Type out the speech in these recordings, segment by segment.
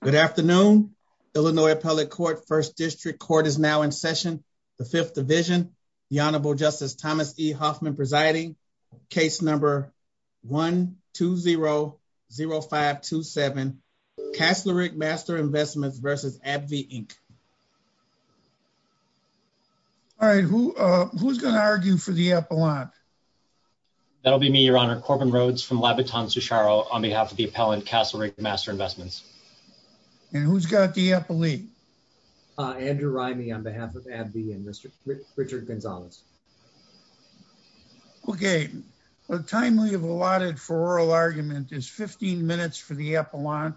Good afternoon. Illinois Appellate Court, First District Court is now in session. The Fifth Division, the Honorable Justice Thomas E. Hoffman presiding. Case number 1-2-0-0-5-2-7, Castle Rigg Master Investments versus AbbVie, Inc. All right, who's gonna argue for the appellant? That'll be me, Your Honor. Corbin Rhodes from Labatton-Sucharo on behalf of the appellant, Castle Rigg Master Investments. And who's got the appellee? Andrew Rimey on behalf of AbbVie and Richard Gonzalez. Okay, the time we have allotted for oral argument is 15 minutes for the appellant,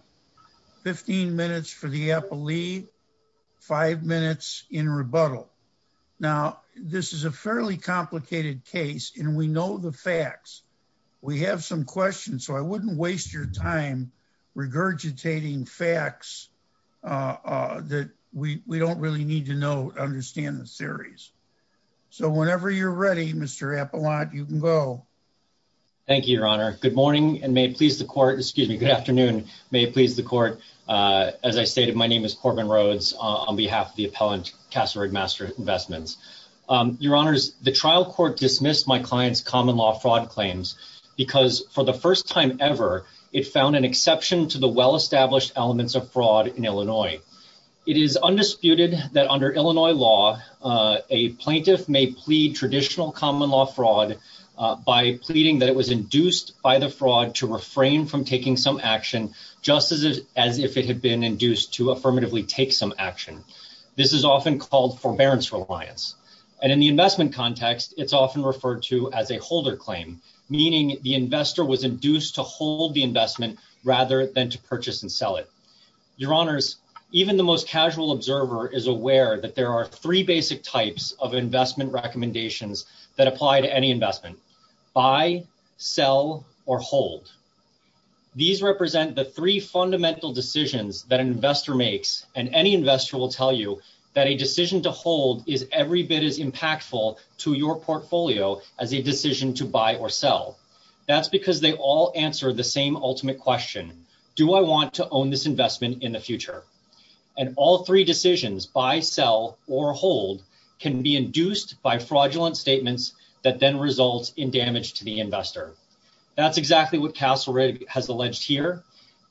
15 minutes for the appellee, five minutes in rebuttal. Now, this is a fairly complicated case and we know the facts. We have some questions, so I wouldn't waste your time regurgitating facts that we don't really need to know, understand the theories. So whenever you're ready, Mr. Appellant, you can go. Thank you, Your Honor. Good morning and may it please the court, excuse me, good afternoon. May it please the court. As I stated, my name is Corbin Rhodes on behalf of the appellant, Castle Rigg Master Investments. Your Honors, the trial court dismissed my client's common law fraud claims because for the first time ever, it found an exception to the well-established elements of fraud in Illinois. It is undisputed that under Illinois law, a plaintiff may plead traditional common law fraud by pleading that it was induced by the fraud to refrain from taking some action, just as if it had been induced to affirmatively take some action. This is often called forbearance reliance. And in the investment context, it's often referred to as a holder claim, meaning the investor was induced to hold the investment rather than to purchase and sell it. Your Honors, even the most casual observer is aware that there are three basic types of investment recommendations that apply to any investment, buy, sell, or hold. These represent the three fundamental decisions that an investor makes and any investor will tell you that a decision to hold is every bit as impactful to your portfolio as a decision to buy or sell. That's because they all answer the same ultimate question, do I want to own this investment in the future? And all three decisions, buy, sell, or hold can be induced by fraudulent statements that then results in damage to the investor. That's exactly what Castle Rigg has alleged here.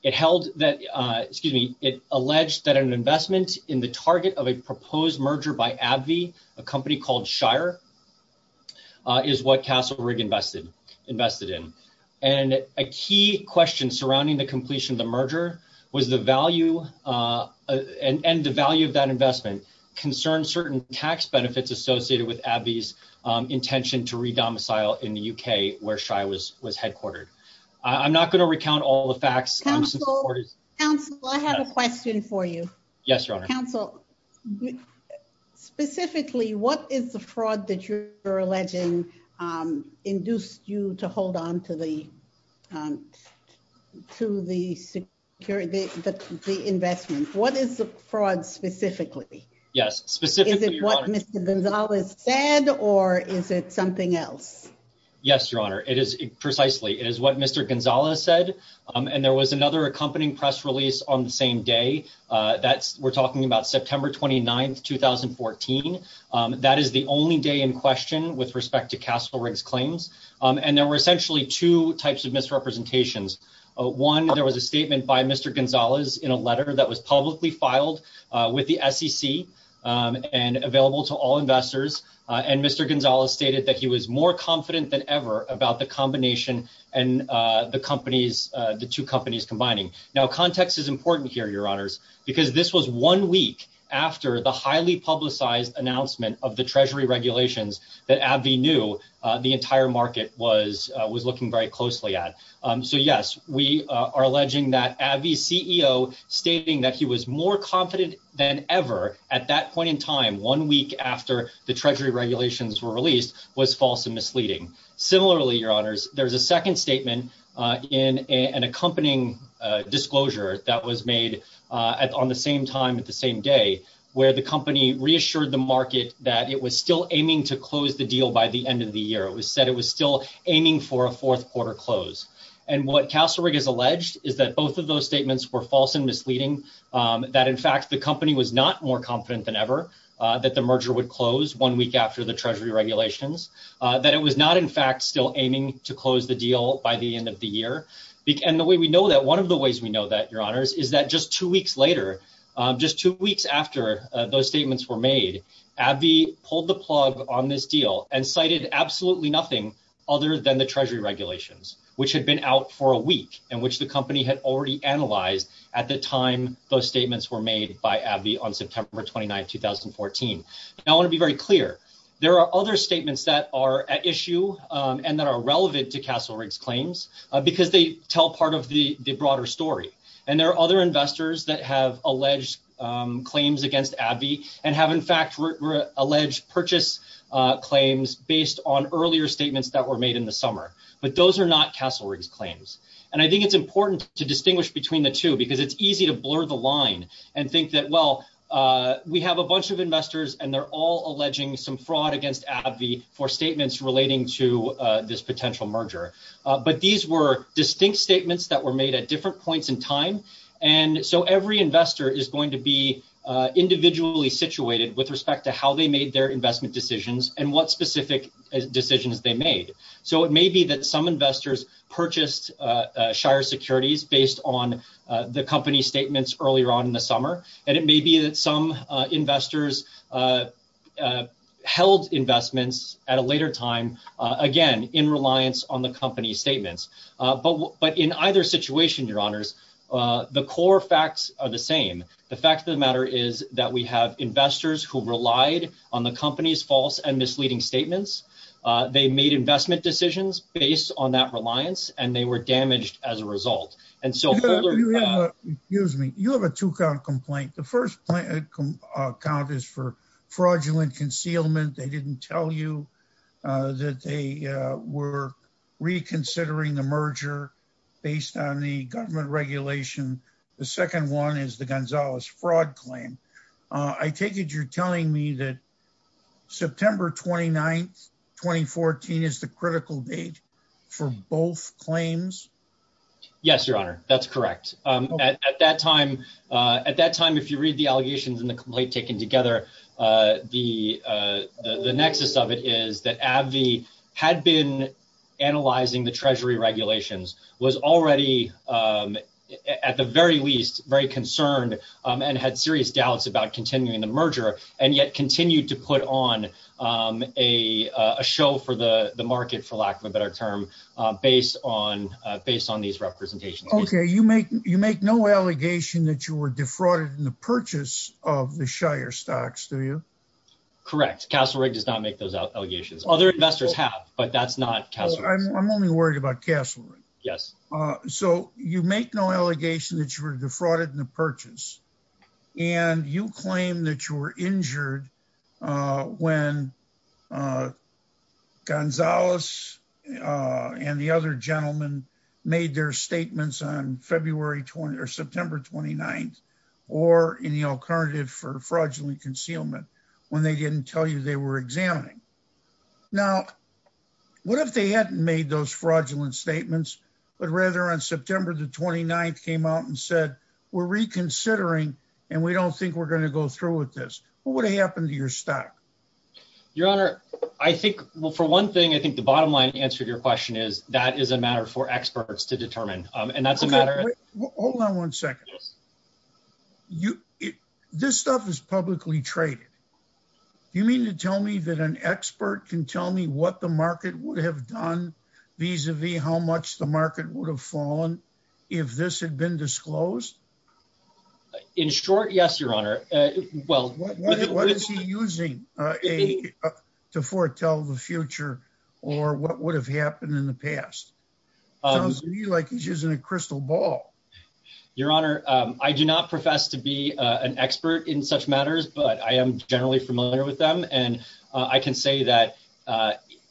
It held that, excuse me, it alleged that an investment in the target of a proposed merger by AbbVie, a company called Shire, is what Castle Rigg invested in. And a key question surrounding the completion of the merger was the value, and the value of that investment concerned certain tax benefits associated with AbbVie's intention to re-domicile in the UK where Shire was headquartered. I'm not going to recount all the facts. Council, I have a question for you. Yes, Your Honor. Council, specifically, what is the fraud that you're alleging induced you to hold on to the security, the investment? What is the fraud specifically? Yes, specifically, Your Honor. Is it what Mr. Gonzales said, or is it something else? Yes, Your Honor, it is precisely, it is what Mr. Gonzales said. And there was another accompanying press release on the same day. That's, we're talking about September 29th, 2014. That is the only day in question with respect to Castle Rigg's claims. And there were essentially two types of misrepresentations. One, there was a statement by Mr. Gonzales in a letter that was publicly filed with the SEC and available to all investors. And Mr. Gonzales stated that he was more confident than ever about the combination and the companies, the two companies combining. Now, context is important here, Your Honors, because this was one week after the highly publicized announcement of the Treasury regulations that AbbVie knew the entire market was looking very closely at. So yes, we are alleging that AbbVie's CEO stating that he was more confident than ever at that point in time, one week after the Treasury regulations were released was false and misleading. Similarly, Your Honors, there's a second statement in an accompanying disclosure that was made on the same time at the same day where the company reassured the market that it was still aiming to close the deal by the end of the year. It was said it was still aiming for a fourth quarter close. And what Castle Rigg has alleged is that both of those statements were false and misleading, that in fact, the company was not more confident than ever that the merger would close one week after the Treasury regulations, that it was not in fact still aiming to close the deal by the end of the year. And the way we know that, one of the ways we know that, Your Honors, is that just two weeks later, just two weeks after those statements were made, AbbVie pulled the plug on this deal and cited absolutely nothing other than the Treasury regulations, which had been out for a week and which the company had already analyzed at the time those statements were made by AbbVie on September 29th, 2014. Now I wanna be very clear. There are other statements that are at issue and that are relevant to Castle Rigg's claims because they tell part of the broader story. And there are other investors that have alleged claims against AbbVie and have in fact alleged purchase claims based on earlier statements that were made in the summer. But those are not Castle Rigg's claims. And I think it's important to distinguish between the two because it's easy to blur the line and think that, well, we have a bunch of investors and they're all alleging some fraud against AbbVie for statements relating to this potential merger. But these were distinct statements that were made at different points in time. And so every investor is going to be individually situated with respect to how they made their investment decisions and what specific decisions they made. So it may be that some investors purchased Shire Securities based on the company statements earlier on in the summer. And it may be that some investors held investments at a later time, again, in reliance on the company's statements. But in either situation, your honors, the core facts are the same. The fact of the matter is that we have investors who relied on the company's false and misleading statements. They made investment decisions based on that reliance and they were damaged as a result. And so- You have a, excuse me, you have a two count complaint. The first point I'd count is for fraudulent concealment. They didn't tell you that they were reconsidering the merger based on the government regulation. The second one is the Gonzalez fraud claim. I take it you're telling me that September 29th, 2014 is the critical date for both claims? Yes, your honor. That's correct. At that time, if you read the allegations and the complaint taken together, the nexus of it is that AbbVie had been analyzing the treasury regulations, was already, at the very least, very concerned and had serious doubts about continuing the merger and yet continued to put on a show for the market, for lack of a better term, based on these representations. Okay, you make no allegation that you were defrauded in the purchase of the Shire stocks, do you? Correct. Castle Rigg does not make those allegations. Other investors have, but that's not Castle Rigg. I'm only worried about Castle Rigg. Yes. So you make no allegation that you were defrauded in the purchase and you claim that you were injured when Gonzalez and the other gentlemen made their statements on February 20th or September 29th or in the alternative for fraudulent concealment when they didn't tell you they were examining. Now, what if they hadn't made those fraudulent statements, but rather on September the 29th came out and said, we're reconsidering and we don't think we're going to go through with this? What would have happened to your stock? Your Honor, I think, well, for one thing, I think the bottom line answer to your question is that is a matter for experts to determine. And that's a matter of- Hold on one second. This stuff is publicly traded. Do you mean to tell me that an expert can tell me what the market would have done vis-a-vis how much the market would have fallen if this had been disclosed? In short, yes, Your Honor. Well- What is he using to foretell the future or what would have happened in the past? Sounds to me like he's using a crystal ball. Your Honor, I do not profess to be an expert in such matters, but I am generally familiar with them. And I can say that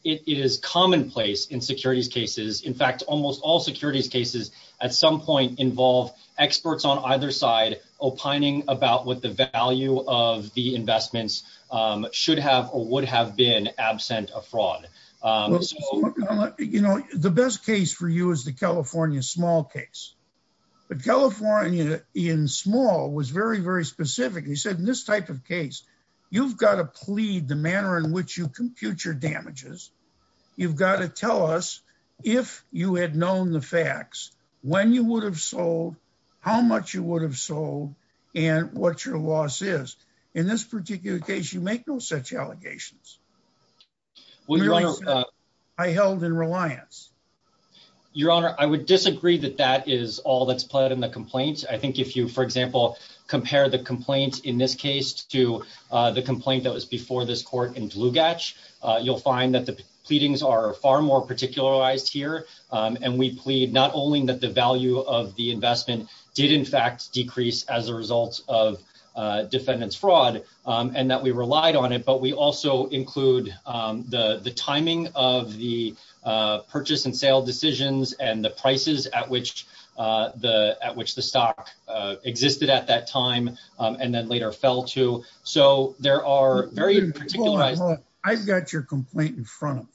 it is commonplace in securities cases. In fact, almost all securities cases at some point involve experts on either side opining about what the value of the investments should have or would have been absent of fraud. Well, Your Honor, the best case for you is the California small case. But California in small was very, very specific. He said, in this type of case, you've got to plead the manner in which you compute your damages. You've got to tell us if you had known the facts, when you would have sold, how much you would have sold, and what your loss is. In this particular case, you make no such allegations. Your Honor, I held in reliance. Your Honor, I would disagree that that is all that's pled in the complaint. I think if you, for example, compare the complaint in this case to the complaint that was before this court in Dlugac, you'll find that the pleadings are far more particularized here. And we plead not only that the value of the investment did in fact decrease as a result of defendant's fraud and that we relied on it, but we also include the timing of the purchase and sale decisions and the prices at which the stock existed at that time and then later fell to. So there are very particularized- I've got your complaint in front of me.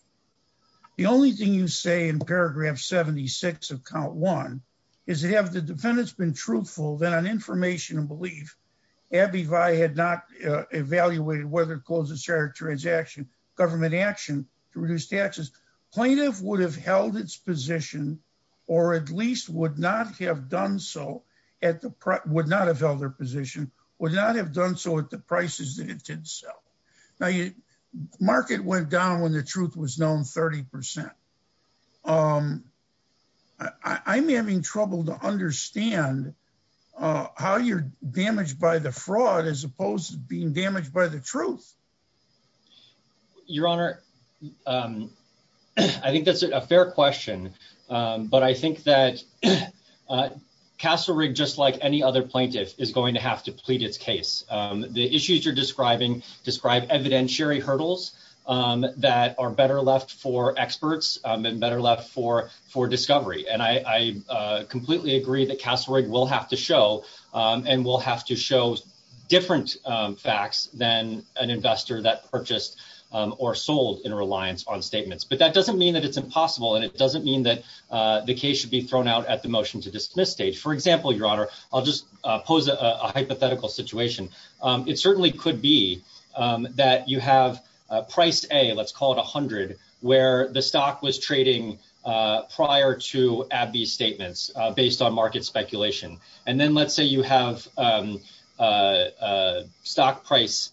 The only thing you say in paragraph 76 of count one is that have the defendants been truthful that on information and belief, Abbey Vi had not evaluated whether to close the share of transaction, government action to reduce taxes. Plaintiff would have held its position or at least would not have done so at the- would not have held their position, would not have done so at the prices that it did sell. Now, market went down when the truth was known 30%. I'm having trouble to understand how you're damaged by the fraud as opposed to being damaged by the truth. Your Honor, I think that's a fair question, but I think that Castle Rigg, just like any other plaintiff is going to have to plead its case. The issues you're describing describe evidentiary hurdles that are better left for experts and better left for discovery. And I completely agree that Castle Rigg will have to show and will have to show different facts than an investor that purchased or sold in reliance on statements. But that doesn't mean that it's impossible and it doesn't mean that the case should be thrown out at the motion to dismiss stage. For example, Your Honor, I'll just pose a hypothetical situation. It certainly could be that you have a price A, let's call it 100, where the stock was trading prior to AbbVie statements based on market speculation. And then let's say you have stock price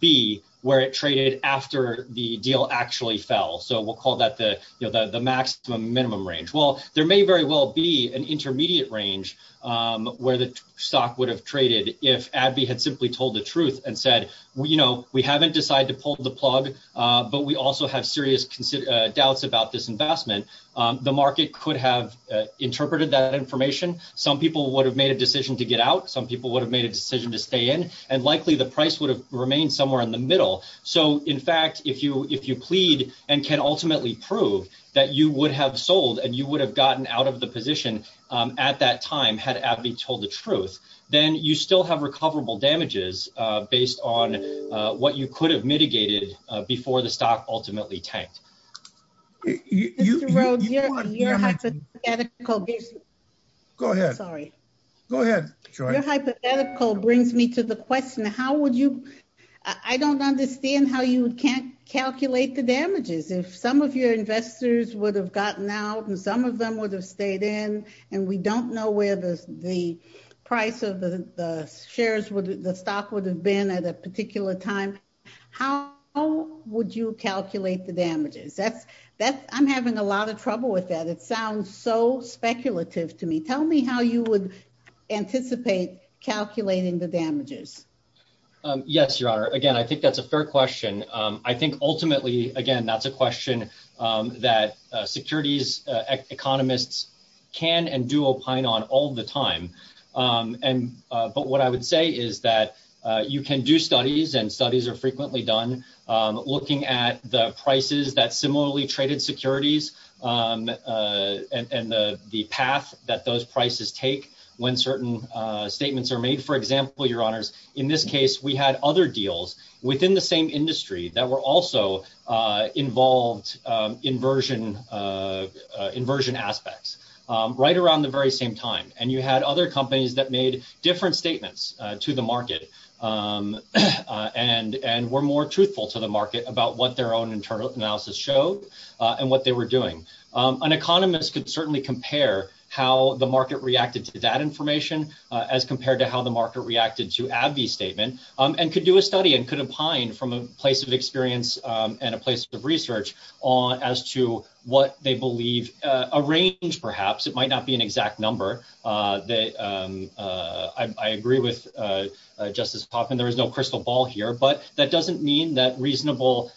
B where it traded after the deal actually fell. So we'll call that the maximum minimum range. Well, there may very well be an intermediate range where the stock would have traded if AbbVie had simply told the truth and said, we haven't decided to pull the plug, but we also have serious doubts about this investment. The market could have interpreted that information. Some people would have made a decision to get out. Some people would have made a decision to stay in and likely the price would have remained somewhere in the middle. So in fact, if you plead and can ultimately prove that you would have sold and you would have gotten out of the position at that time had AbbVie told the truth, then you still have recoverable damages based on what you could have mitigated before the stock ultimately tanked. You want damages. Go ahead. Sorry. Go ahead, Joy. Your hypothetical brings me to the question. How would you, I don't understand how you can't calculate the damages. If some of your investors would have gotten out and some of them would have stayed in and we don't know where the price of the shares, the stock would have been at a particular time, how would you calculate the damages? I'm having a lot of trouble with that. It sounds so speculative to me. Tell me how you would anticipate calculating the damages. Yes, Your Honor. Again, I think that's a fair question. I think ultimately, again, that's a question that securities economists can and do opine on all the time. And, but what I would say is that you can do studies and studies are frequently done looking at the prices that similarly traded securities and the path that those prices take when certain statements are made. For example, Your Honors, in this case, we had other deals within the same industry that were also involved inversion aspects right around the very same time. And you had other companies that made different statements to the market and were more truthful to the market about what their own internal analysis showed and what they were doing. An economist could certainly compare how the market reacted to that information as compared to how the market reacted to AbbVie's statement and could do a study and could opine from a place of experience and a place of research as to what they believe a range perhaps, it might not be an exact number. I agree with Justice Hoffman, there is no crystal ball here, but that doesn't mean that reasonable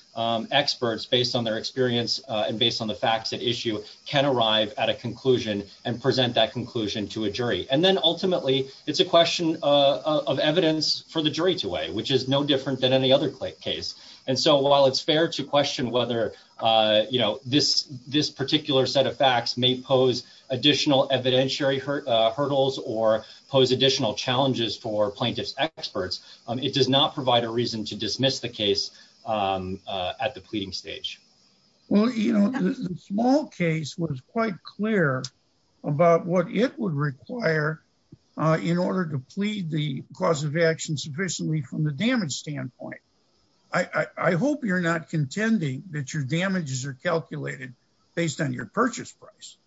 experts based on their experience and based on the facts at issue can arrive at a conclusion and present that conclusion to a jury. And then ultimately it's a question of evidence for the jury to weigh, which is no different than any other case. And so while it's fair to question whether this particular set of facts may pose additional evidentiary hurdles or pose additional challenges for plaintiff's experts, it does not provide a reason to dismiss the case at the pleading stage. Well, the small case was quite clear about what it would require in order to plead the cause of action sufficiently from the damage standpoint. I hope you're not contending that your damages are calculated based on your purchase price.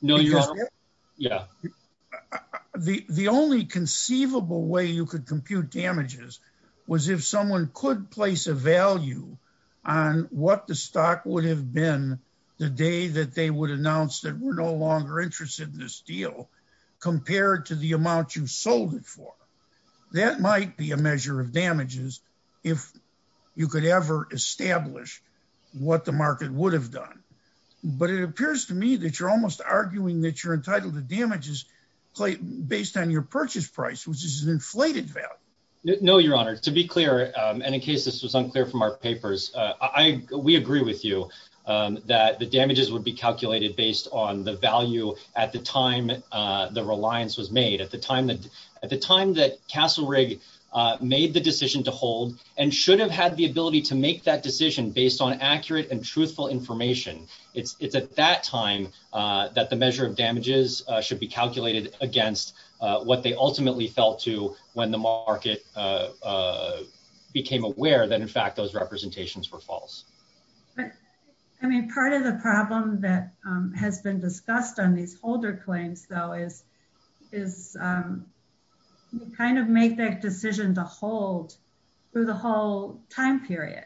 No, you're wrong. Yeah. The only conceivable way you could compute damages was if someone could place a value on what the stock would have been the day that they would announce that we're no longer interested in this deal compared to the amount you sold it for. That might be a measure of damages if you could ever establish what the market would have done. But it appears to me that you're almost arguing that you're entitled to damages based on your purchase price, which is an inflated value. No, your honor. To be clear, and in case this was unclear from our papers, we agree with you that the damages would be calculated based on the value at the time the reliance was made. At the time that Castle Rigg made the decision and should have had the ability to make that decision based on accurate and truthful information. It's at that time that the measure of damages should be calculated against what they ultimately felt to when the market became aware that in fact, those representations were false. I mean, part of the problem that has been discussed on these holder claims though is we kind of make that decision to hold through the whole time period.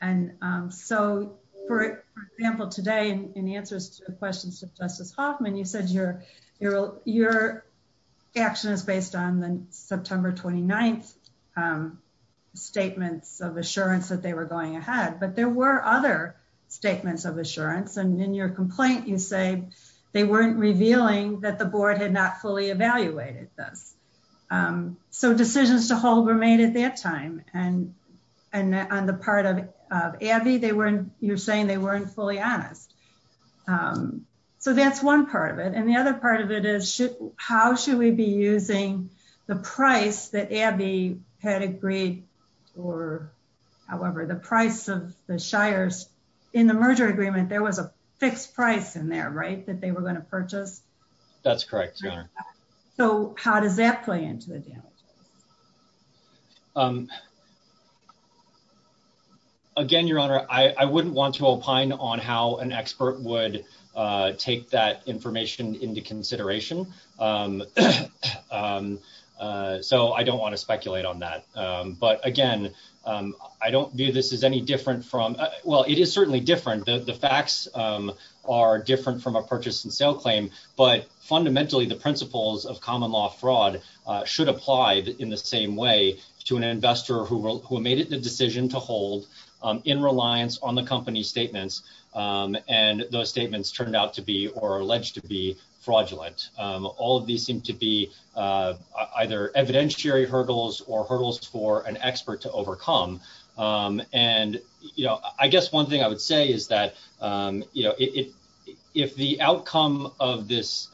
And so for example, today in the answers to questions to Justice Hoffman, you said your action is based on the September 29th statements of assurance that they were going ahead, but there were other statements of assurance. And in your complaint, you say they weren't revealing that the board had not fully evaluated this. So decisions to hold were made at that time. And on the part of Abby, you're saying they weren't fully honest. So that's one part of it. And the other part of it is, how should we be using the price that Abby had agreed or however, the price of the shires in the merger agreement, there was a fixed price in there, right? That they were going to purchase? That's correct, Your Honor. So how does that play into the damages? Again, Your Honor, I wouldn't want to opine on how an expert would take that information into consideration. So I don't want to speculate on that. But again, I don't view this as any different from, well, it is certainly different. The facts are different from a purchase and sale claim, but fundamentally the principles of common law fraud should apply in the same way to an investor who made it the decision to hold in reliance on the company statements. And those statements turned out to be or alleged to be fraudulent. All of these seem to be either evidentiary hurdles or hurdles for an expert to overcome. And I guess one thing I would say is that, if the outcome of this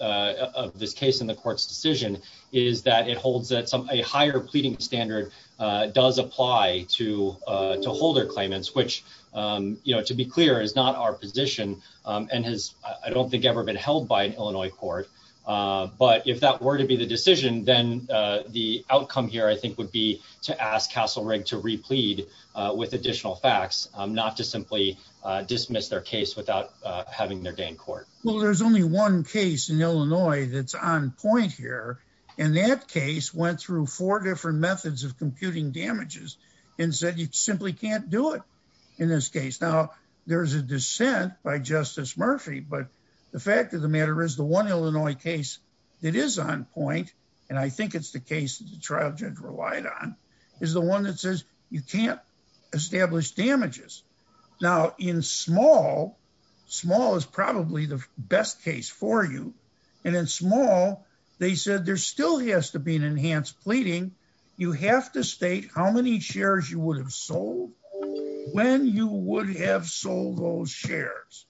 case in the court's decision is that it holds that a higher pleading standard does apply to holder claimants, which to be clear is not our position and has, I don't think ever been held by an Illinois court. But if that were to be the decision, then the outcome here I think would be to ask Castle Rigg to replead with additional facts, not to simply dismiss their case without having their day in court. Well, there's only one case in Illinois that's on point here. And that case went through four different methods of computing damages and said you simply can't do it in this case. Now there's a dissent by Justice Murphy, but the fact of the matter is the one Illinois case that is on point, and I think it's the case that the trial judge relied on, is the one that says you can't establish damages. Now in small, small is probably the best case for you. And in small, they said, there still has to be an enhanced pleading. You have to state how many shares you would have sold, when you would have sold those shares.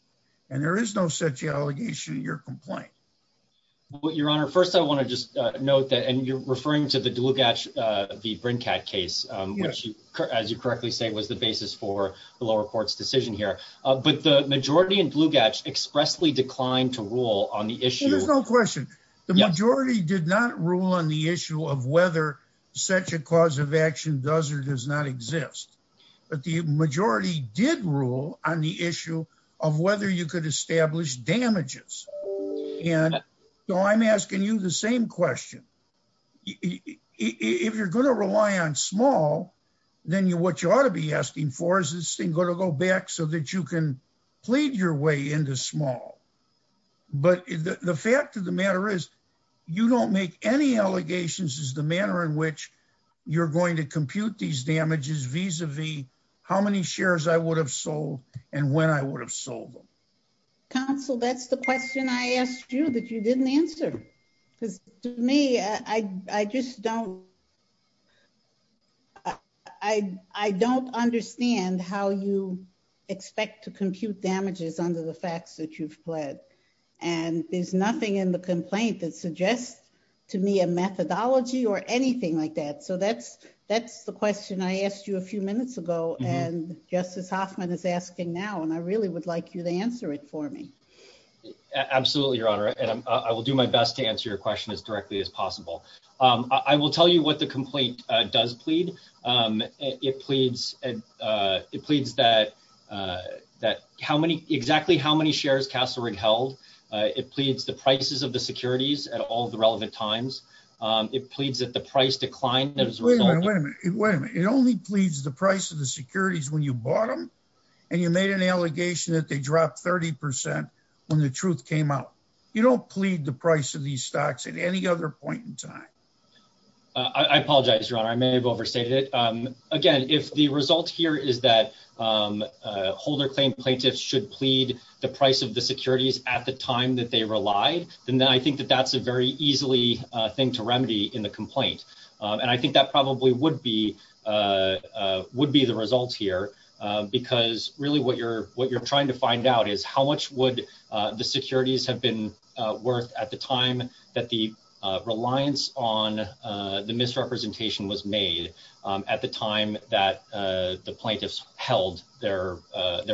And there is no such allegation in your complaint. Well, Your Honor, first I wanna just note that, and you're referring to the Dlugac, the Brincat case, which as you correctly say, was the basis for the lower court's decision here. But the majority in Dlugac expressly declined to rule on the issue. There's no question. The majority did not rule on the issue of whether such a cause of action does or does not exist. But the majority did rule on the issue of whether you could establish damages. And so I'm asking you the same question. If you're gonna rely on small, then what you ought to be asking for is this thing gonna go back so that you can plead your way into small. But the fact of the matter is, you don't make any allegations as the manner in which you're going to compute these damages vis-a-vis how many shares I would have sold and when I would have sold them. Counsel, that's the question I asked you that you didn't answer. Because to me, I just don't... I don't understand how you expect to compute damages under the facts that you've pled. And there's nothing in the complaint that suggests to me a methodology or anything like that. So that's the question I asked you a few minutes ago, and Justice Hoffman is asking now, and I really would like you to answer it for me. Absolutely, Your Honor. And I will do my best to answer your question as directly as possible. I will tell you what the complaint does plead. It pleads that exactly how many shares Castle Rigg held. It pleads the prices of the securities at all the relevant times. It pleads that the price decline that was- Wait a minute, wait a minute. It only pleads the price of the securities when you bought them, and you made an allegation that they dropped 30% when the truth came out. You don't plead the price of these stocks at any other point in time. I apologize, Your Honor. I may have overstated it. Again, if the result here is that holder claim plaintiffs should plead the price of the securities at the time that they relied, then I think that that's a very easily thing to remedy in the complaint. And I think that probably would be the result here because really what you're trying to find out is how much would the securities have been worth at the time that the reliance on the misrepresentation was made at the time that the plaintiffs held their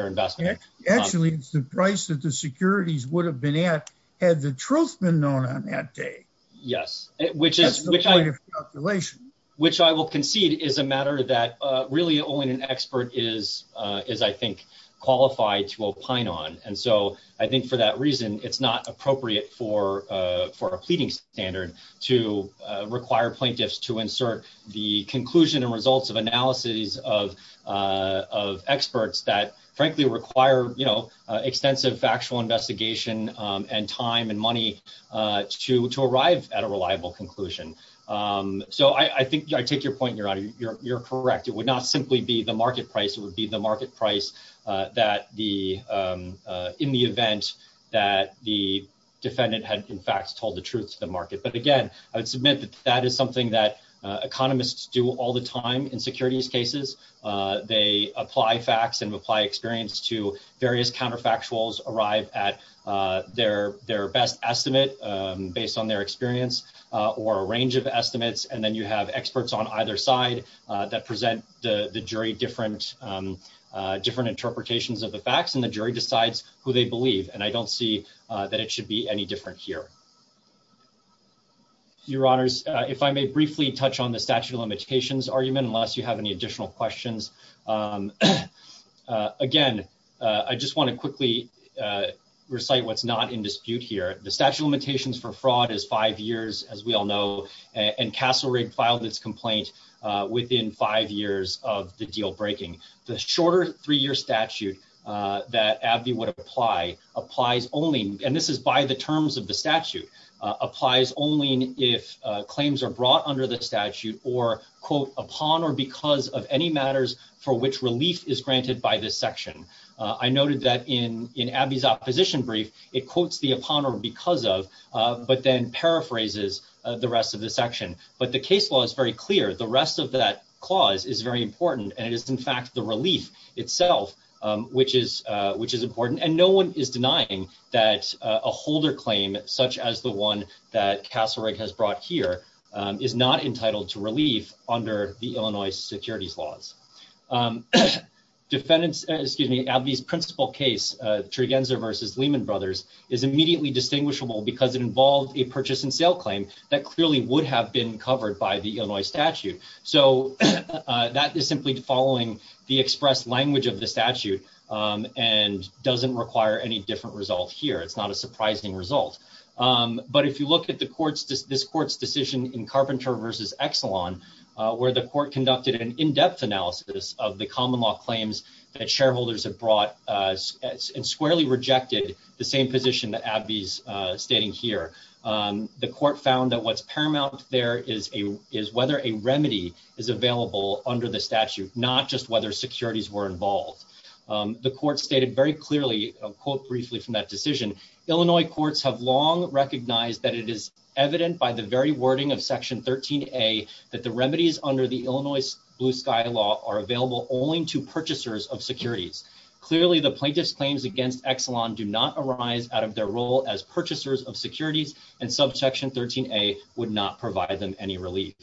investment. Actually, it's the price that the securities would have been at had the truth been known on that day. Yes. That's the point of calculation. Which I will concede is a matter that really only an expert is, I think, qualified to opine on. And so I think for that reason, it's not appropriate for a pleading standard to require plaintiffs to insert the conclusion and results of analysis of experts that frankly require extensive factual investigation and time and money to arrive at a reliable conclusion. So I think I take your point and you're correct. It would not simply be the market price. It would be the market price in the event that the defendant had in fact told the truth to the market. But again, I would submit that that is something that economists do all the time in securities cases. They apply facts and apply experience to various counterfactuals arrive at their best estimate based on their experience or a range of estimates. And then you have experts on either side that present the jury different interpretations of the facts and the jury decides who they believe. And I don't see that it should be any different here. Your honors, if I may briefly touch on the statute of limitations argument, unless you have any additional questions. Again, I just want to quickly recite what's not in dispute here. The statute of limitations for fraud is five years as we all know, and Castle Rigg filed this complaint within five years of the deal breaking. The shorter three-year statute that AbbVie would apply applies only, and this is by the terms of the statute, applies only if claims are brought under the statute or quote, upon or because of any matters for which relief is granted by this section. I noted that in AbbVie's opposition brief, it quotes the upon or because of, but then paraphrases the rest of the section. But the case law is very clear. The rest of that clause is very important and it is in fact the relief itself, which is important. And no one is denying that a holder claim such as the one that Castle Rigg has brought here is not entitled to relief under the Illinois securities laws. Defendants, excuse me, AbbVie's principal case, Trigenza versus Lehman Brothers, is immediately distinguishable because it involved a purchase and sale claim that clearly would have been covered by the Illinois statute so that is simply following the express language of the statute and doesn't require any different result here. It's not a surprising result. But if you look at this court's decision in Carpenter versus Exelon, where the court conducted an in-depth analysis of the common law claims that shareholders have brought and squarely rejected the same position that AbbVie's stating here, the court found that what's paramount there is whether a remedy is available under the statute, not just whether securities were involved. The court stated very clearly, I'll quote briefly from that decision, "'Illinois courts have long recognized "'that it is evident by the very wording of section 13A "'that the remedies under the Illinois Blue Sky Law "'are available only to purchasers of securities. "'Clearly, the plaintiff's claims against Exelon "'do not arise out of their role as purchasers of securities "'and subsection 13A would not provide them any relief.'"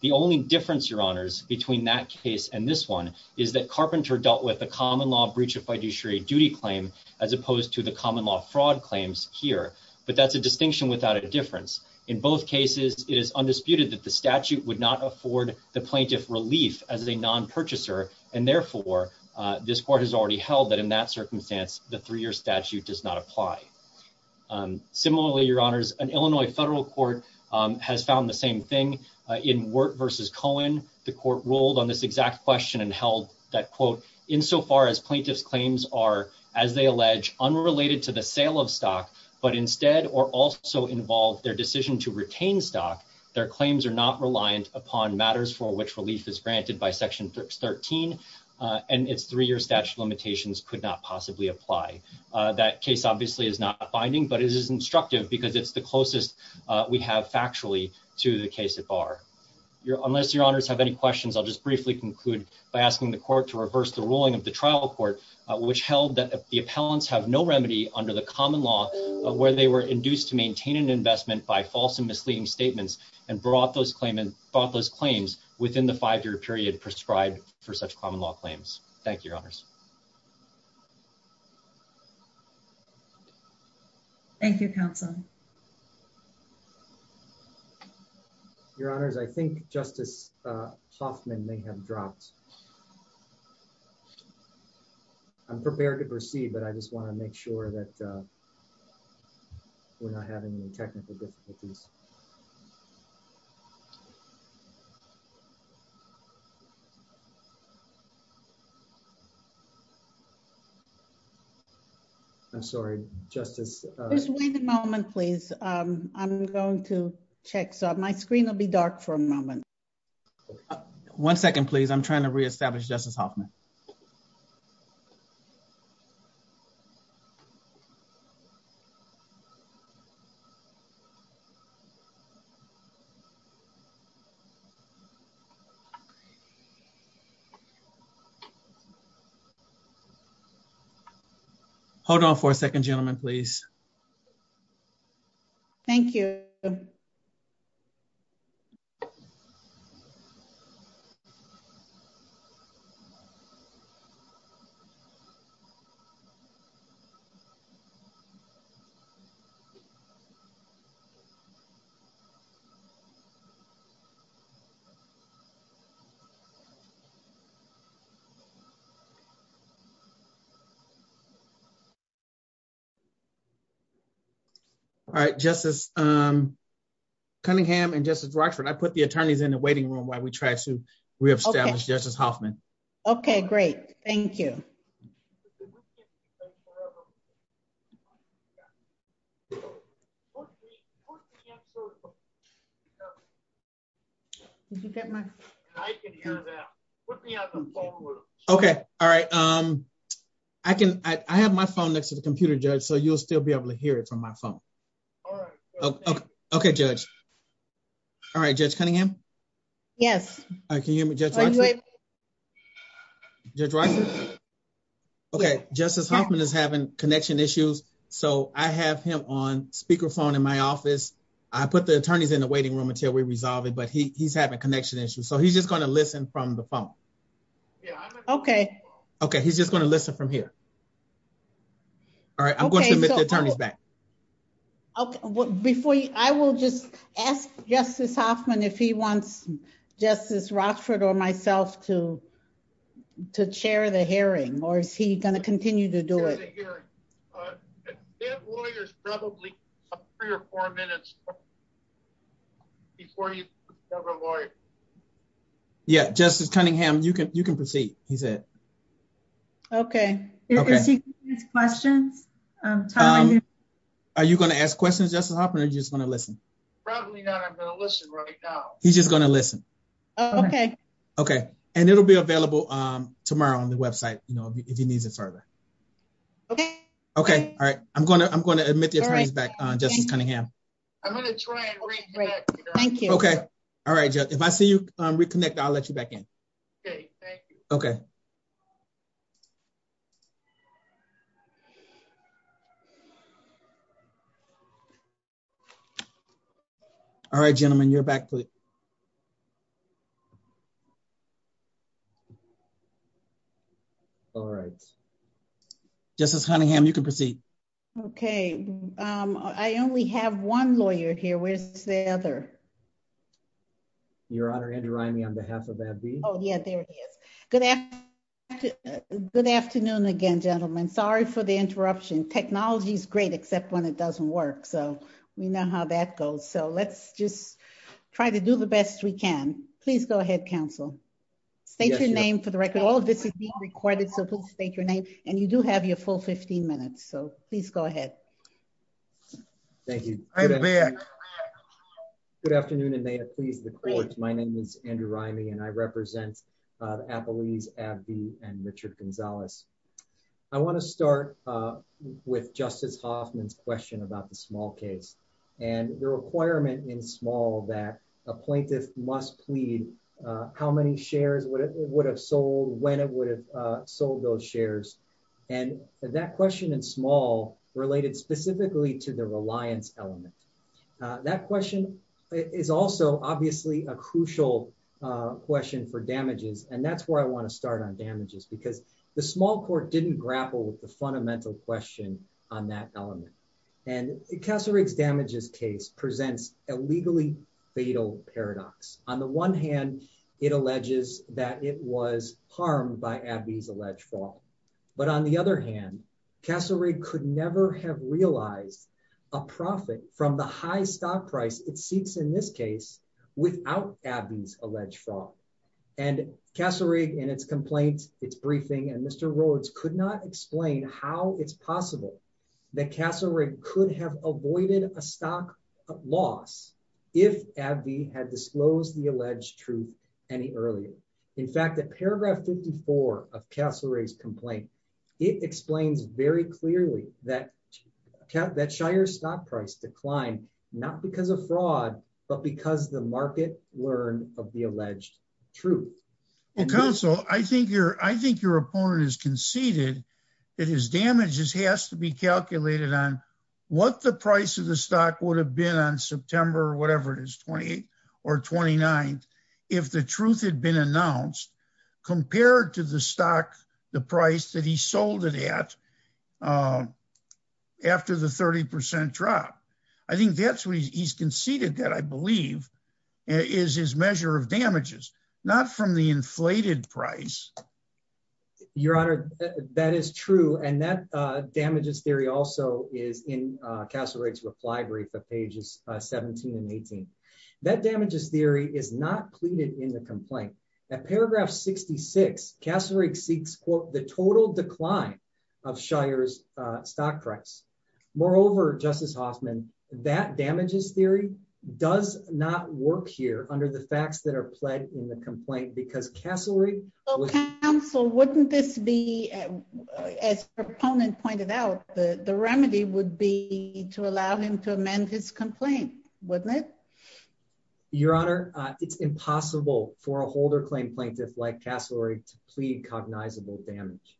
The only difference, your honors, between that case and this one is that Carpenter dealt with the common law breach of fiduciary duty claim as opposed to the common law fraud claims here. But that's a distinction without a difference. In both cases, it is undisputed that the statute would not afford the plaintiff relief as a non-purchaser. And therefore, this court has already held that in that circumstance, the three-year statute does not apply. Similarly, your honors, an Illinois federal court has found the same thing. In Wert versus Cohen, the court ruled on this exact question and held that quote, "'Insofar as plaintiff's claims are, as they allege, "'unrelated to the sale of stock, "'but instead or also involve their decision to retain stock, "'their claims are not reliant upon matters "'for which relief is granted by section 13, "'and its three-year statute limitations "'could not possibly apply.'" That case obviously is not binding, but it is instructive because it's the closest we have factually to the case at bar. Unless your honors have any questions, I'll just briefly conclude by asking the court to reverse the ruling of the trial court which held that the appellants have no remedy under the common law of where they were induced to maintain an investment by false and misleading statements and brought those claims within the five-year period prescribed for such common law claims. Thank you, your honors. Thank you, counsel. Your honors, I think Justice Hoffman may have dropped. I'm prepared to proceed, but I just want to make sure that we're not having any technical difficulties. I'm sorry, Justice- Just wait a moment, please. I'm going to check. So my screen will be dark for a moment. One second, please. I'm trying to reestablish Justice Hoffman. Hold on for a second, gentlemen, please. Thank you. Thank you. All right, Justice Cunningham and Justice Rochford, I put the attorneys in the waiting room while we try to reestablish Justice Hoffman. Okay, great. Thank you. Thank you. Okay, all right. I have my phone next to the computer, Judge, so you'll still be able to hear it from my phone. All right. Okay, Judge. All right, Judge Cunningham? Yes. All right, can you hear me, Judge Rochford? Judge Rochford? Okay, Justice Hoffman is having connection issues, so I have him on speakerphone in my office. I put the attorneys in the waiting room until we resolve it, but he's having connection issues, so he's just gonna listen from the phone. Okay. Okay, he's just gonna listen from here. All right, I'm going to admit the attorneys back. Okay, I will just ask Justice Hoffman if he wants Justice Rochford or myself to chair the hearing, or is he gonna continue to do it? Chair the hearing. The lawyers probably have three or four minutes before you have a lawyer. Yeah, Justice Cunningham, you can proceed, he said. Okay. Okay. Is he gonna ask questions, Tyler? Are you gonna ask questions, Justice Hoffman, or are you just gonna listen? Probably not, I'm gonna listen right now. He's just gonna listen. Okay. Okay, and it'll be available tomorrow on the website if he needs it further. Okay. Okay, all right, I'm gonna admit the attorneys back, Justice Cunningham. I'm gonna try and reconnect. Thank you. Okay, all right, Judge. If I see you reconnect, I'll let you back in. Okay, thank you. Okay. All right, gentlemen, you're back. All right, Justice Cunningham, you can proceed. Okay, I only have one lawyer here. Where's the other? Your Honor, Andrew Rimey on behalf of AbbVie. Oh, yeah, there he is. Good afternoon again, gentlemen. Sorry for the interruption. Technology's great, except when it doesn't work. So we know how that goes. So let's just try to do the best we can. Please go ahead, counsel. State your name for the record. All of this is being recorded, so please state your name. And you do have your full 15 minutes, so please go ahead. Thank you. Good afternoon, and may it please the court. My name is Andrew Rimey, and I represent Appalese, AbbVie, and Richard Gonzalez. I wanna start with Justice Hoffman's question about the small case, and the requirement in small that a plaintiff must plead how many shares would it would have sold, when it would have sold those shares. And that question in small related specifically to the reliance element. That question is also obviously a crucial question for damages, and that's where I wanna start on damages, because the small court didn't grapple with the fundamental question on that element. And Cassarig's damages case presents a legally fatal paradox. On the one hand, it alleges that it was harmed by AbbVie's alleged fraud. But on the other hand, Cassarig could never have realized a profit from the high stock price it seeks in this case without AbbVie's alleged fraud. And Cassarig in its complaint, its briefing, and Mr. Rhodes could not explain how it's possible that Cassarig could have avoided a stock loss if AbbVie had disclosed the alleged truth any earlier. In fact, at paragraph 54 of Cassarig's complaint, it explains very clearly that Shire's stock price declined, not because of fraud, but because the market learned of the alleged truth. Well, counsel, I think your opponent has conceded that his damages has to be calculated on what the price of the stock would have been on September, whatever it is, 28th or 29th, if the truth had been announced, compared to the stock, the price that he sold it at after the 30% drop. I think that's what he's conceded that I believe is his measure of damages, not from the inflated price. Your Honor, that is true. And that damages theory also is in Cassarig's reply brief of pages 17 and 18. That damages theory is not pleaded in the complaint. At paragraph 66, Cassarig seeks, quote, the total decline of Shire's stock price. Moreover, Justice Hoffman, that damages theory does not work here under the facts that are pled in the complaint because Cassarig- Well, counsel, wouldn't this be, as your opponent pointed out, the remedy would be to allow him to amend his complaint, wouldn't it? Your Honor, it's impossible for a holder claim plaintiff like Cassarig to plead cognizable damage.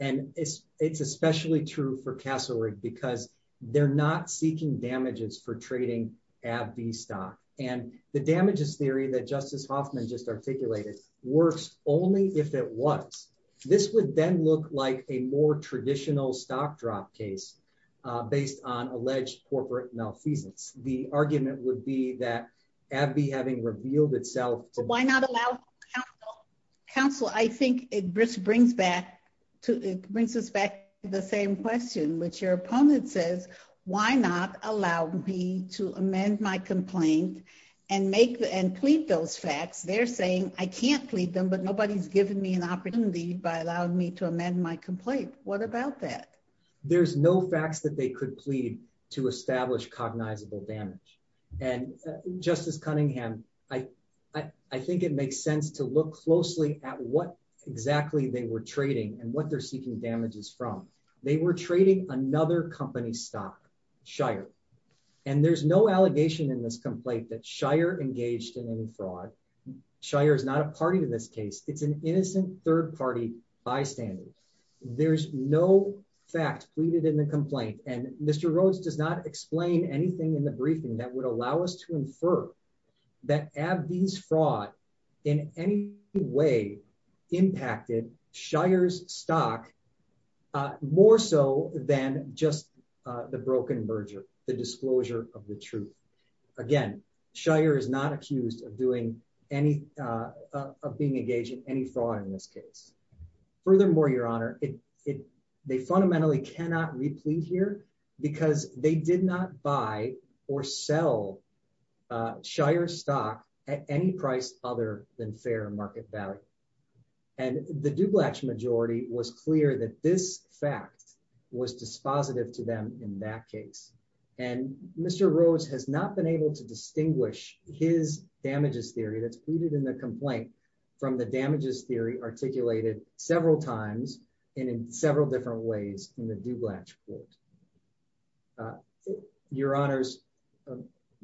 And it's especially true for Cassarig because they're not seeking damages for trading at the stock and the damages theory that Justice Hoffman just articulated works only if it was. This would then look like a more traditional stock drop case based on alleged corporate malfeasance. The argument would be that AbbVie having revealed itself- Why not allow counsel? I think it brings us back to the same question, which your opponent says, why not allow me to amend my complaint and plead those facts? They're saying, I can't plead them, but nobody's given me an opportunity by allowing me to amend my complaint. What about that? There's no facts that they could plead to establish cognizable damage. And Justice Cunningham, I think it makes sense to look closely at what exactly they were trading and what they're seeking damages from. They were trading another company stock, Shire. And there's no allegation in this complaint that Shire engaged in any fraud. Shire is not a party to this case. It's an innocent third-party bystander. There's no fact pleaded in the complaint. And Mr. Rhodes does not explain anything in the briefing that would allow us to infer that AbbVie's fraud in any way impacted Shire's stock more so than just the broken merger, the disclosure of the truth. Again, Shire is not accused of being engaged in any fraud in this case. Furthermore, Your Honor, they fundamentally cannot replete here because they did not buy or sell Shire's stock at any price other than fair market value. And the Dublatch majority was clear that this fact was dispositive to them in that case. And Mr. Rhodes has not been able to distinguish his damages theory that's pleaded in the complaint from the damages theory articulated several times and in several different ways in the Dublatch court. Your Honors,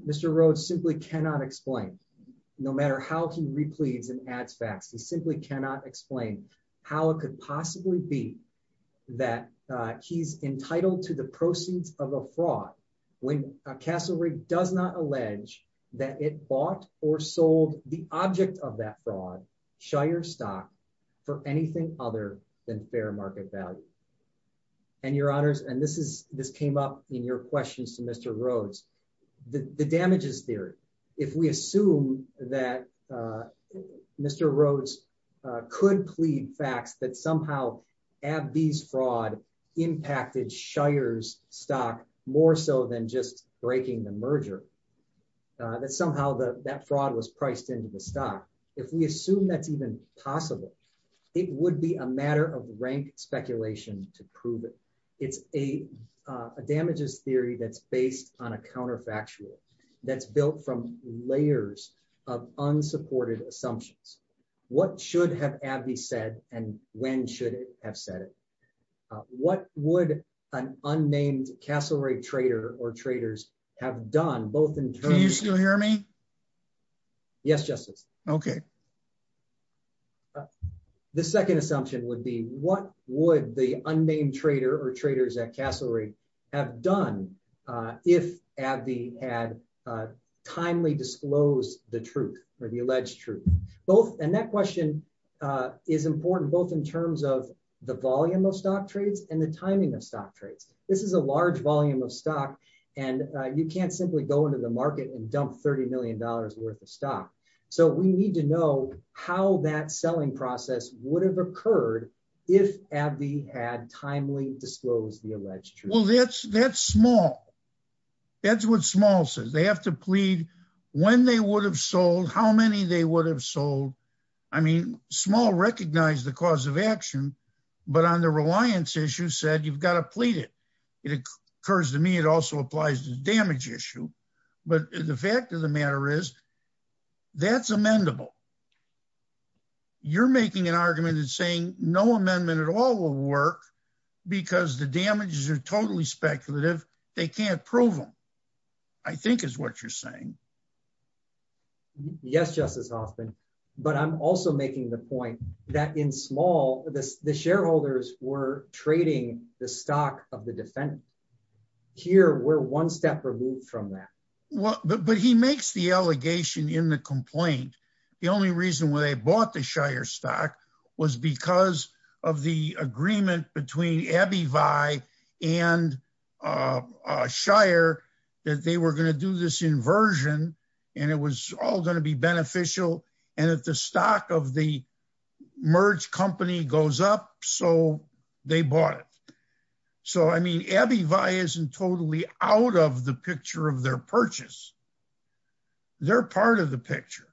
Mr. Rhodes simply cannot explain, no matter how he repletes and adds facts, he simply cannot explain how it could possibly be that he's entitled to the proceeds of a fraud when Castle Rigg does not allege that it bought or sold the object of that fraud, Shire's stock, for anything other than fair market value. And Your Honors, and this came up in your questions to Mr. Rhodes, the damages theory, if we assume that Mr. Rhodes could plead facts that somehow AbbVie's fraud impacted Shire's stock more so than just breaking the merger, that somehow that fraud was priced into the stock, if we assume that's even possible, it would be a matter of rank speculation to prove it. It's a damages theory that's based on a counterfactual that's built from layers of unsupported assumptions. What should have AbbVie said, and when should it have said it? What would an unnamed Castle Rigg trader or traders have done both in terms of- Can you still hear me? Yes, Justice. Okay. The second assumption would be, what would the unnamed trader or traders at Castle Rigg have done if AbbVie had timely disclosed the truth or the alleged truth? Both, and that question is important, both in terms of the volume of stock trades and the timing of stock trades. This is a large volume of stock, and you can't simply go into the market and dump $30 million worth of stock. So we need to know how that selling process would have occurred if AbbVie had timely disclosed the alleged truth. Well, that's small. That's what small says. They have to plead when they would have sold, how many they would have sold. I mean, small recognize the cause of action, but on the reliance issue said, you've got to plead it. It occurs to me, it also applies to the damage issue. But the fact of the matter is that's amendable. You're making an argument and saying no amendment at all will work because the damages are totally speculative. They can't prove them, I think is what you're saying. Yes, Justice Hoffman. But I'm also making the point that in small, the shareholders were trading the stock of the defendant. Here, we're one step removed from that. But he makes the allegation in the complaint. The only reason why they bought the Shire stock was because of the agreement between AbbVie and Shire that they were going to do this inversion and it was all going to be beneficial. And if the stock of the merge company goes up, so they bought it. So, I mean, AbbVie isn't totally out of the picture of their purchase. They're part of the picture.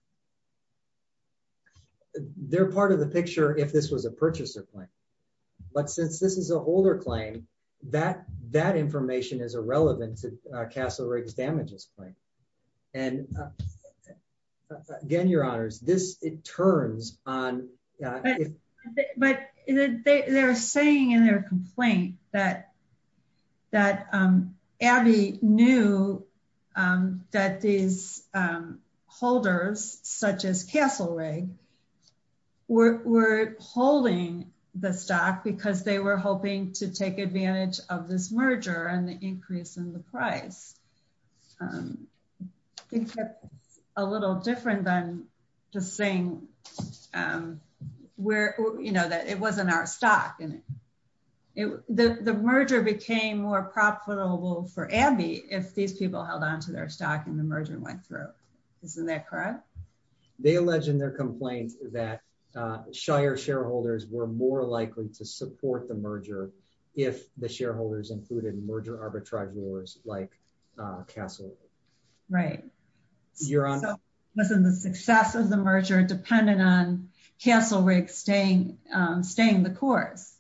They're part of the picture if this was a purchaser claim. But since this is a holder claim, that information is irrelevant to Castle Riggs damages claim. And again, your honors, this turns on- But they're saying in their complaint that AbbVie knew that these holders such as Castle Riggs were holding the stock because they were hoping to take advantage of this merger and the increase in the price. I think that's a little different than just saying that it wasn't our stock. The merger became more profitable for AbbVie if these people held onto their stock and the merger went through. Isn't that correct? They allege in their complaint that Shire shareholders were more likely to support the merger if the shareholders included merger arbitrage wars like Castle Riggs. Right. Your honor- So, wasn't the success of the merger dependent on Castle Riggs staying the course?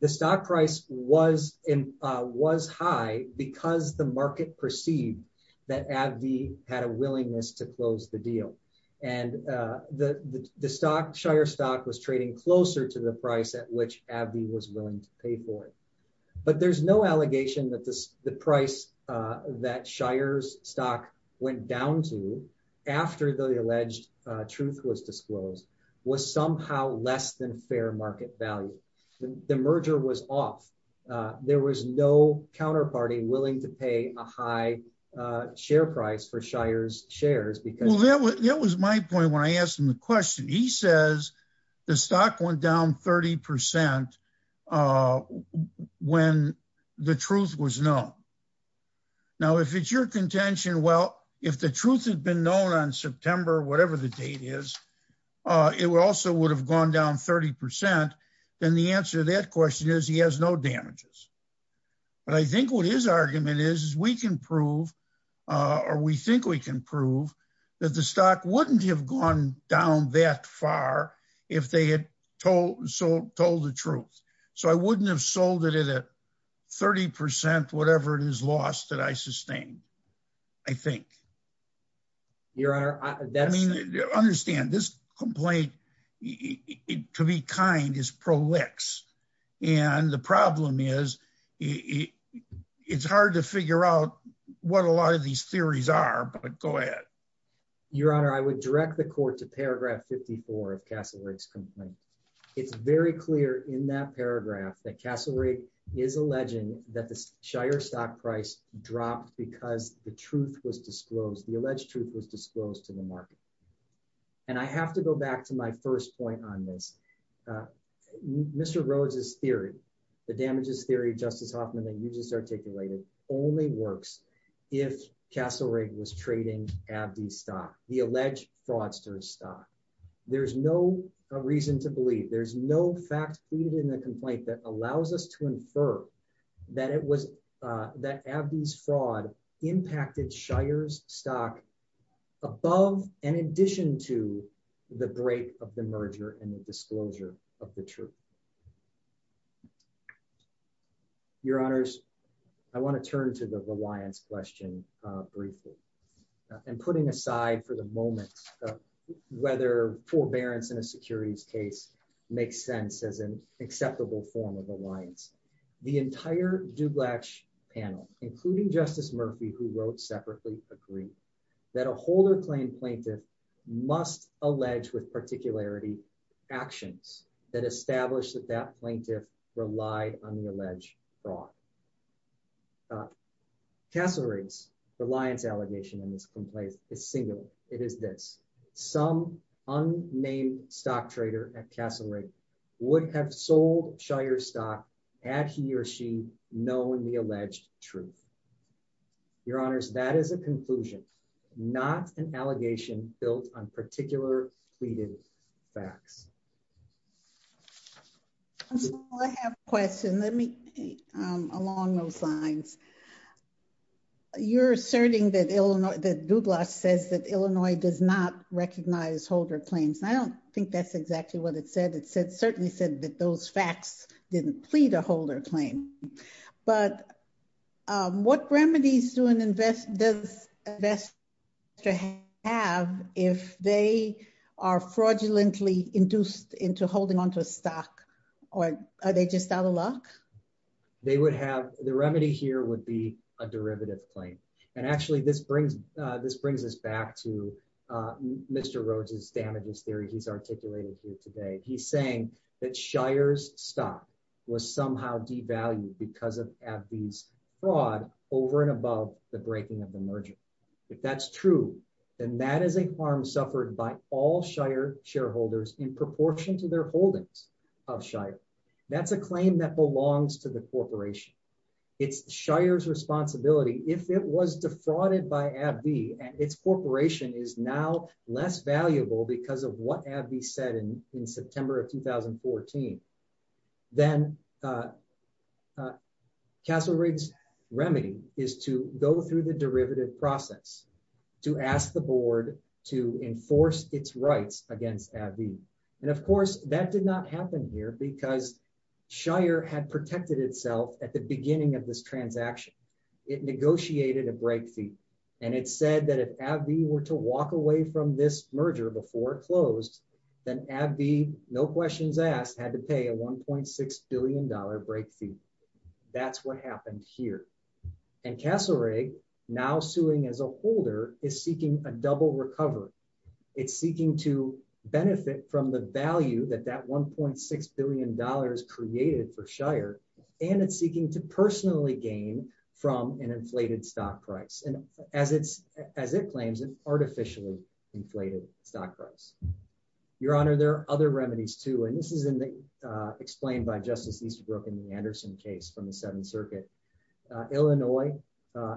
The stock price was high because the market perceived that AbbVie had a willingness to close the deal. And the Shire stock was trading closer to the price at which AbbVie was willing to pay for it. But there's no allegation that the price that Shire's stock went down to after the alleged truth was disclosed was somehow less than fair market value. The merger was off. There was no counterparty willing to pay a high share price for Shire's shares because- Well, that was my point when I asked him the question. He says the stock went down 30% when the truth was known. Now, if it's your contention, well, if the truth had been known on September, whatever the date is, it also would have gone down 30%. Then the answer to that question is he has no damages. But I think what his argument is, is we can prove, or we think we can prove that the stock wouldn't have gone down that far if they had told the truth. So, I wouldn't have sold it at 30%, whatever it is lost that I sustained, I think. Your honor, that's- I mean, understand this complaint, to be kind is pro-lix. And the problem is it's hard to figure out what a lot of these theories are, but go ahead. Your honor, I would direct the court to paragraph 54 of Cassel-Rigg's complaint. It's very clear in that paragraph that Cassel-Rigg is alleging that the Shire stock price dropped because the truth was disclosed, the alleged truth was disclosed to the market. And I have to go back to my first point on this. Mr. Rhodes's theory, the damages theory, Justice Hoffman, that you just articulated, only works if Cassel-Rigg was trading Abdi's stock, the alleged fraudster's stock. There's no reason to believe, there's no fact even in the complaint that allows us to infer that it was, that Abdi's fraud impacted Shire's stock above and in addition to the break of the merger and the disclosure of the truth. Your honors, I want to turn to the reliance question briefly and putting aside for the moment whether forbearance in a securities case makes sense as an acceptable form of reliance. The entire Dublatch panel, including Justice Murphy, who wrote separately, agree that a holder claim plaintiff must allege with particularity actions that establish that that plaintiff relied on the alleged fraud. Cassel-Rigg's reliance allegation in this complaint is singular. It is this, some unnamed stock trader at Cassel-Rigg would have sold Shire stock had he or she known the alleged truth. Your honors, that is a conclusion, not an allegation built on particular tweeted facts. I have a question. Let me, along those lines, you're asserting that Dublatch says that Illinois does not recognize holder claims. I don't think that's exactly what it said. It certainly said that those facts didn't plead a holder claim. But what remedies does an investor have if they are fraudulently induced into holding onto a stock or are they just out of luck? They would have, the remedy here would be a derivative claim. And actually this brings us back to Mr. Rhodes's damages theory he's articulated here today. He's saying that Shire's stock was somehow devalued because of AbbVie's fraud over and above the breaking of the merger. If that's true, then that is a harm suffered by all Shire shareholders in proportion to their holdings of Shire. That's a claim that belongs to the corporation. It's Shire's responsibility. If it was defrauded by AbbVie and its corporation is now less valuable because of what AbbVie said in September of 2014, then Castle Riggs remedy is to go through the derivative process to ask the board to enforce its rights against AbbVie. And of course that did not happen here because Shire had protected itself at the beginning of this transaction. It negotiated a break fee. And it said that if AbbVie were to walk away from this merger before it closed, then AbbVie no questions asked had to pay a $1.6 billion break fee. That's what happened here. And Castle Riggs now suing as a holder is seeking a double recovery. It's seeking to benefit from the value that that $1.6 billion created for Shire. And it's seeking to personally gain from an inflated stock price. As it claims, an artificially inflated stock price. Your Honor, there are other remedies too. And this is explained by Justice Eastbrook in the Anderson case from the Seventh Circuit. Illinois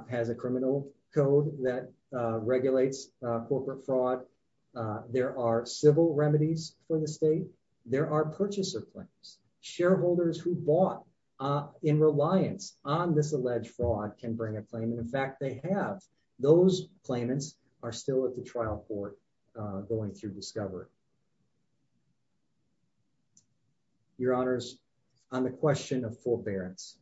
has a criminal code that regulates corporate fraud. There are civil remedies for the state. There are purchaser claims. Shareholders who bought in reliance on this alleged fraud can bring a claim. And in fact, they have. Those claimants are still at the trial court going through discovery. Your Honors, on the question of forbearance,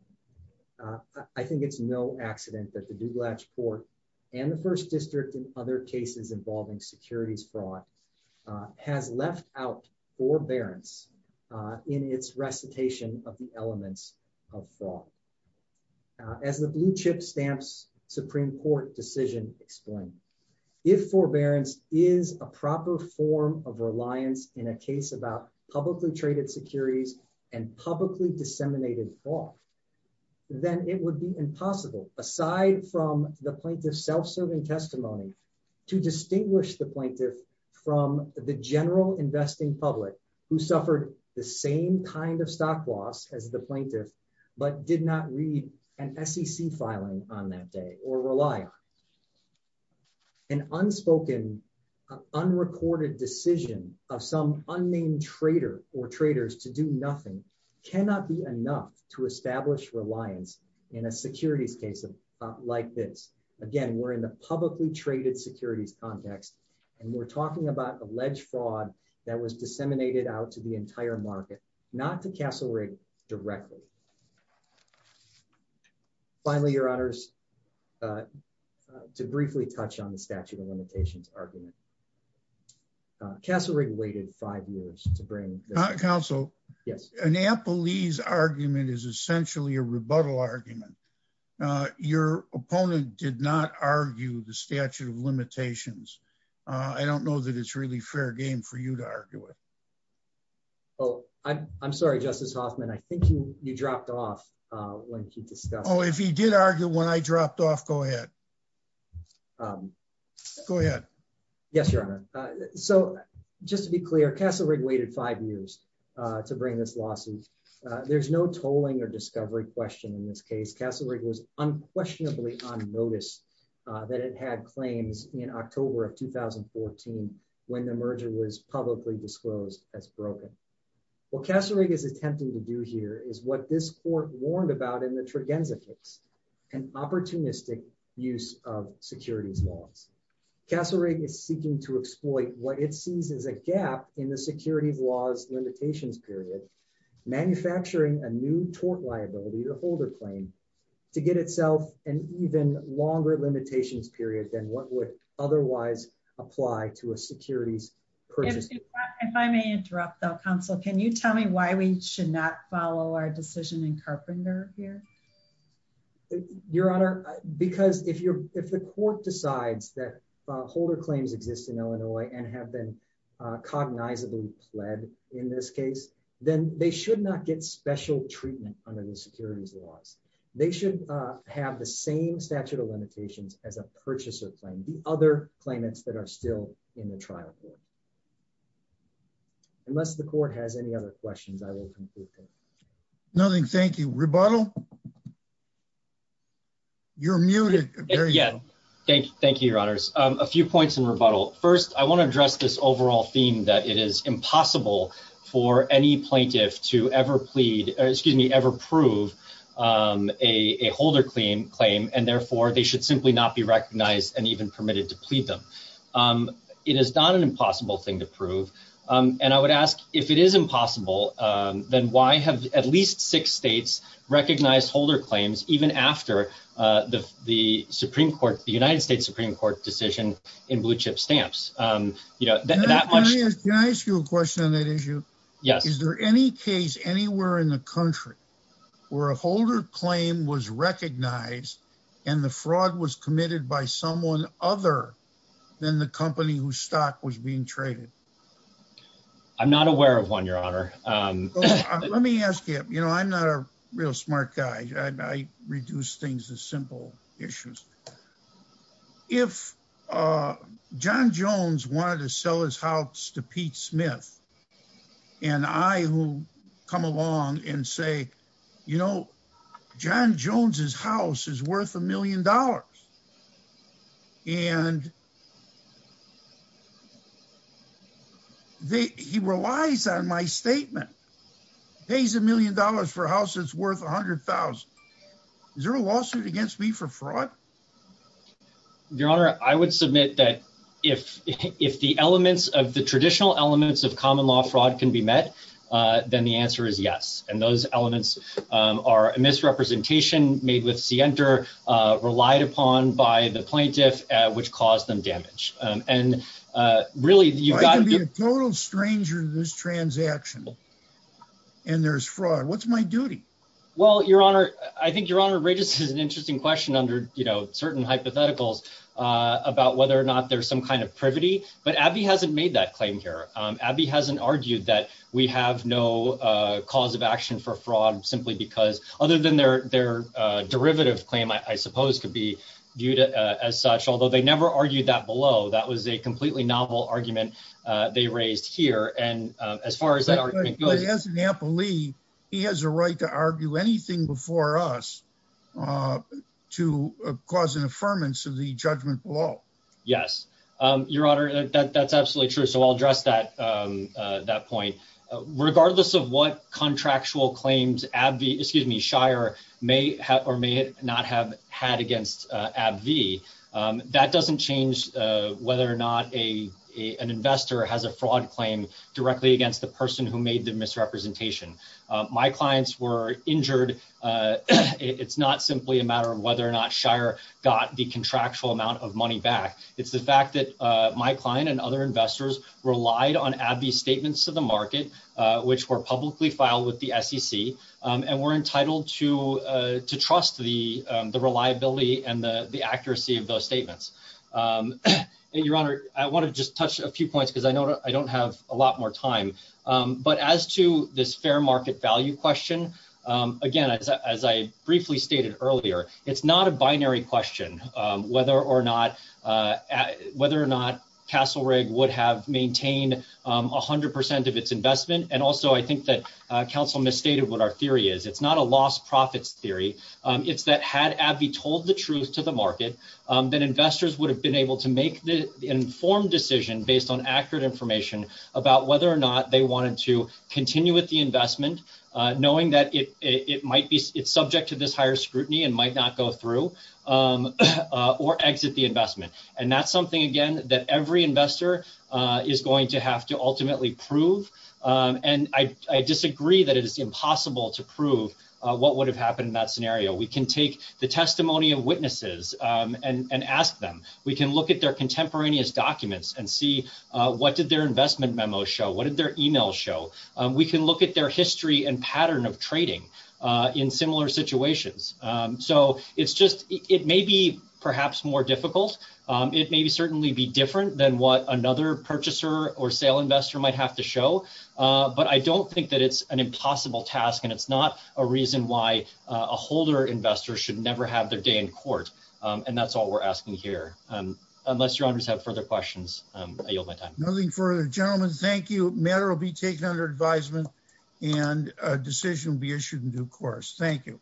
I think it's no accident that the Duglatch Court and the First District and other cases involving securities fraud has left out forbearance in its recitation of the elements of fraud. As the blue chip stamps Supreme Court decision explained, if forbearance is a proper form of reliance in a case about publicly traded securities and publicly disseminated fraud, then it would be impossible, aside from the plaintiff's self-serving testimony, to distinguish the plaintiff from the general investing public who suffered the same kind of stock loss as the plaintiff, but did not read an SEC filing on that day or rely on. An unspoken, unrecorded decision of some unnamed trader or traders to do nothing cannot be enough to establish reliance in a securities case like this. Again, we're in the publicly traded securities context, and we're talking about alleged fraud that was disseminated out to the entire market, not to Castle Rigg directly. Finally, Your Honors, to briefly touch on the statute of limitations argument. Castle Rigg waited five years to bring- Councilor? Yes. Annapolis argument is essentially a rebuttal argument. Your opponent did not argue the statute of limitations. I don't know that it's really fair game for you to argue it. Oh, I'm sorry, Justice Hoffman. I think you dropped off when he discussed- Oh, if he did argue when I dropped off, go ahead. Go ahead. Yes, Your Honor. So just to be clear, Castle Rigg waited five years to bring this lawsuit. There's no tolling or discovery question in this case. Castle Rigg was unquestionably on notice that it had claims in October of 2014 when the merger was publicly disclosed as broken. What Castle Rigg is attempting to do here is what this court warned about in the Tregenza case, an opportunistic use of securities laws. Castle Rigg is seeking to exploit what it sees as a gap in the securities laws limitations period, manufacturing a new tort liability, the holder claim, to get itself an even longer limitations period than what would otherwise apply to a securities purchase. If I may interrupt, though, counsel, can you tell me why we should not follow our decision in Carpenter here? Your Honor, because if the court decides that holder claims exist in Illinois and have been cognizantly pled in this case, then they should not get special treatment under the securities laws. They should have the same statute of limitations as a purchaser claim, the other claimants that are still in the trial court. Unless the court has any other questions, I will conclude here. Nothing, thank you. Rebuttal? You're muted, there you go. Thank you, Your Honors. A few points in rebuttal. First, I want to address this overall theme that it is impossible for any plaintiff to ever plead, excuse me, ever prove a holder claim, and therefore they should simply not be recognized and even permitted to plead them. It is not an impossible thing to prove. And I would ask, if it is impossible, then why have at least six states recognized holder claims even after the Supreme Court, the United States Supreme Court decision in Blue Chip Stamps? You know, that much- Can I ask you a question on that issue? Yes. Is there any case anywhere in the country where a holder claim was recognized and the fraud was committed by someone other than the company whose stock was being traded? I'm not aware of one, Your Honor. Let me ask you, you know, I'm not a real smart guy. I reduce things to simple issues. If John Jones wanted to sell his house to Pete Smith and I will come along and say, you know, John Jones's house is worth a million dollars and he relies on my statement. Pays a million dollars for a house that's worth 100,000. Is there a lawsuit against me for fraud? Your Honor, I would submit that if the elements of the traditional elements of common law fraud can be met, then the answer is yes. And those elements are a misrepresentation made with Sienter, relied upon by the plaintiff, which caused them damage. And really you've got- I can be a total stranger to this transaction and there's fraud. What's my duty? Well, Your Honor, I think Your Honor, Regis has an interesting question under, you know, certain hypotheticals about whether or not there's some kind of privity, but Abbey hasn't made that claim here. Abbey hasn't argued that we have no cause of action for fraud simply because, other than their derivative claim, I suppose could be viewed as such. Although they never argued that below. That was a completely novel argument they raised here. And as far as that argument goes- As an employee, he has a right to argue anything before us to cause an affirmance of the judgment below. Yes. Your Honor, that's absolutely true. So I'll address that point. Regardless of what contractual claims Abbey, excuse me, Shire may or may not have had against Abbey, that doesn't change whether or not an investor has a fraud claim directly against the person who made the misrepresentation. My clients were injured. It's not simply a matter of whether or not Shire got the contractual amount of money back. It's the fact that my client and other investors relied on Abbey's statements to the market, which were publicly filed with the SEC, and were entitled to trust the reliability and the accuracy of those statements. Your Honor, I want to just touch a few points because I don't have a lot more time. But as to this fair market value question, again, as I briefly stated earlier, it's not a binary question whether or not Castle Rigg would have maintained 100% of its investment. And also, I think that counsel misstated what our theory is. It's not a lost profits theory. It's that had Abbey told the truth to the market, that investors would have been able to make the informed decision based on accurate information about whether or not they wanted to continue with the investment, knowing that it's subject to this higher scrutiny and might not go through or exit the investment. And that's something, again, that every investor is going to have to ultimately prove. And I disagree that it is impossible to prove what would have happened in that scenario. We can take the testimony of witnesses and ask them. We can look at their contemporaneous documents and see what did their investment memo show? What did their email show? We can look at their history and pattern of trading in similar situations. So it's just, it may be perhaps more difficult. It may be certainly be different than what another purchaser or sale investor might have to show. But I don't think that it's an impossible task and it's not a reason why a holder investor should never have their day in court. And that's all we're asking here. Unless your honors have further questions, I yield my time. Nothing further. Gentlemen, thank you. Matter will be taken under advisement and a decision will be issued in due course. Thank you.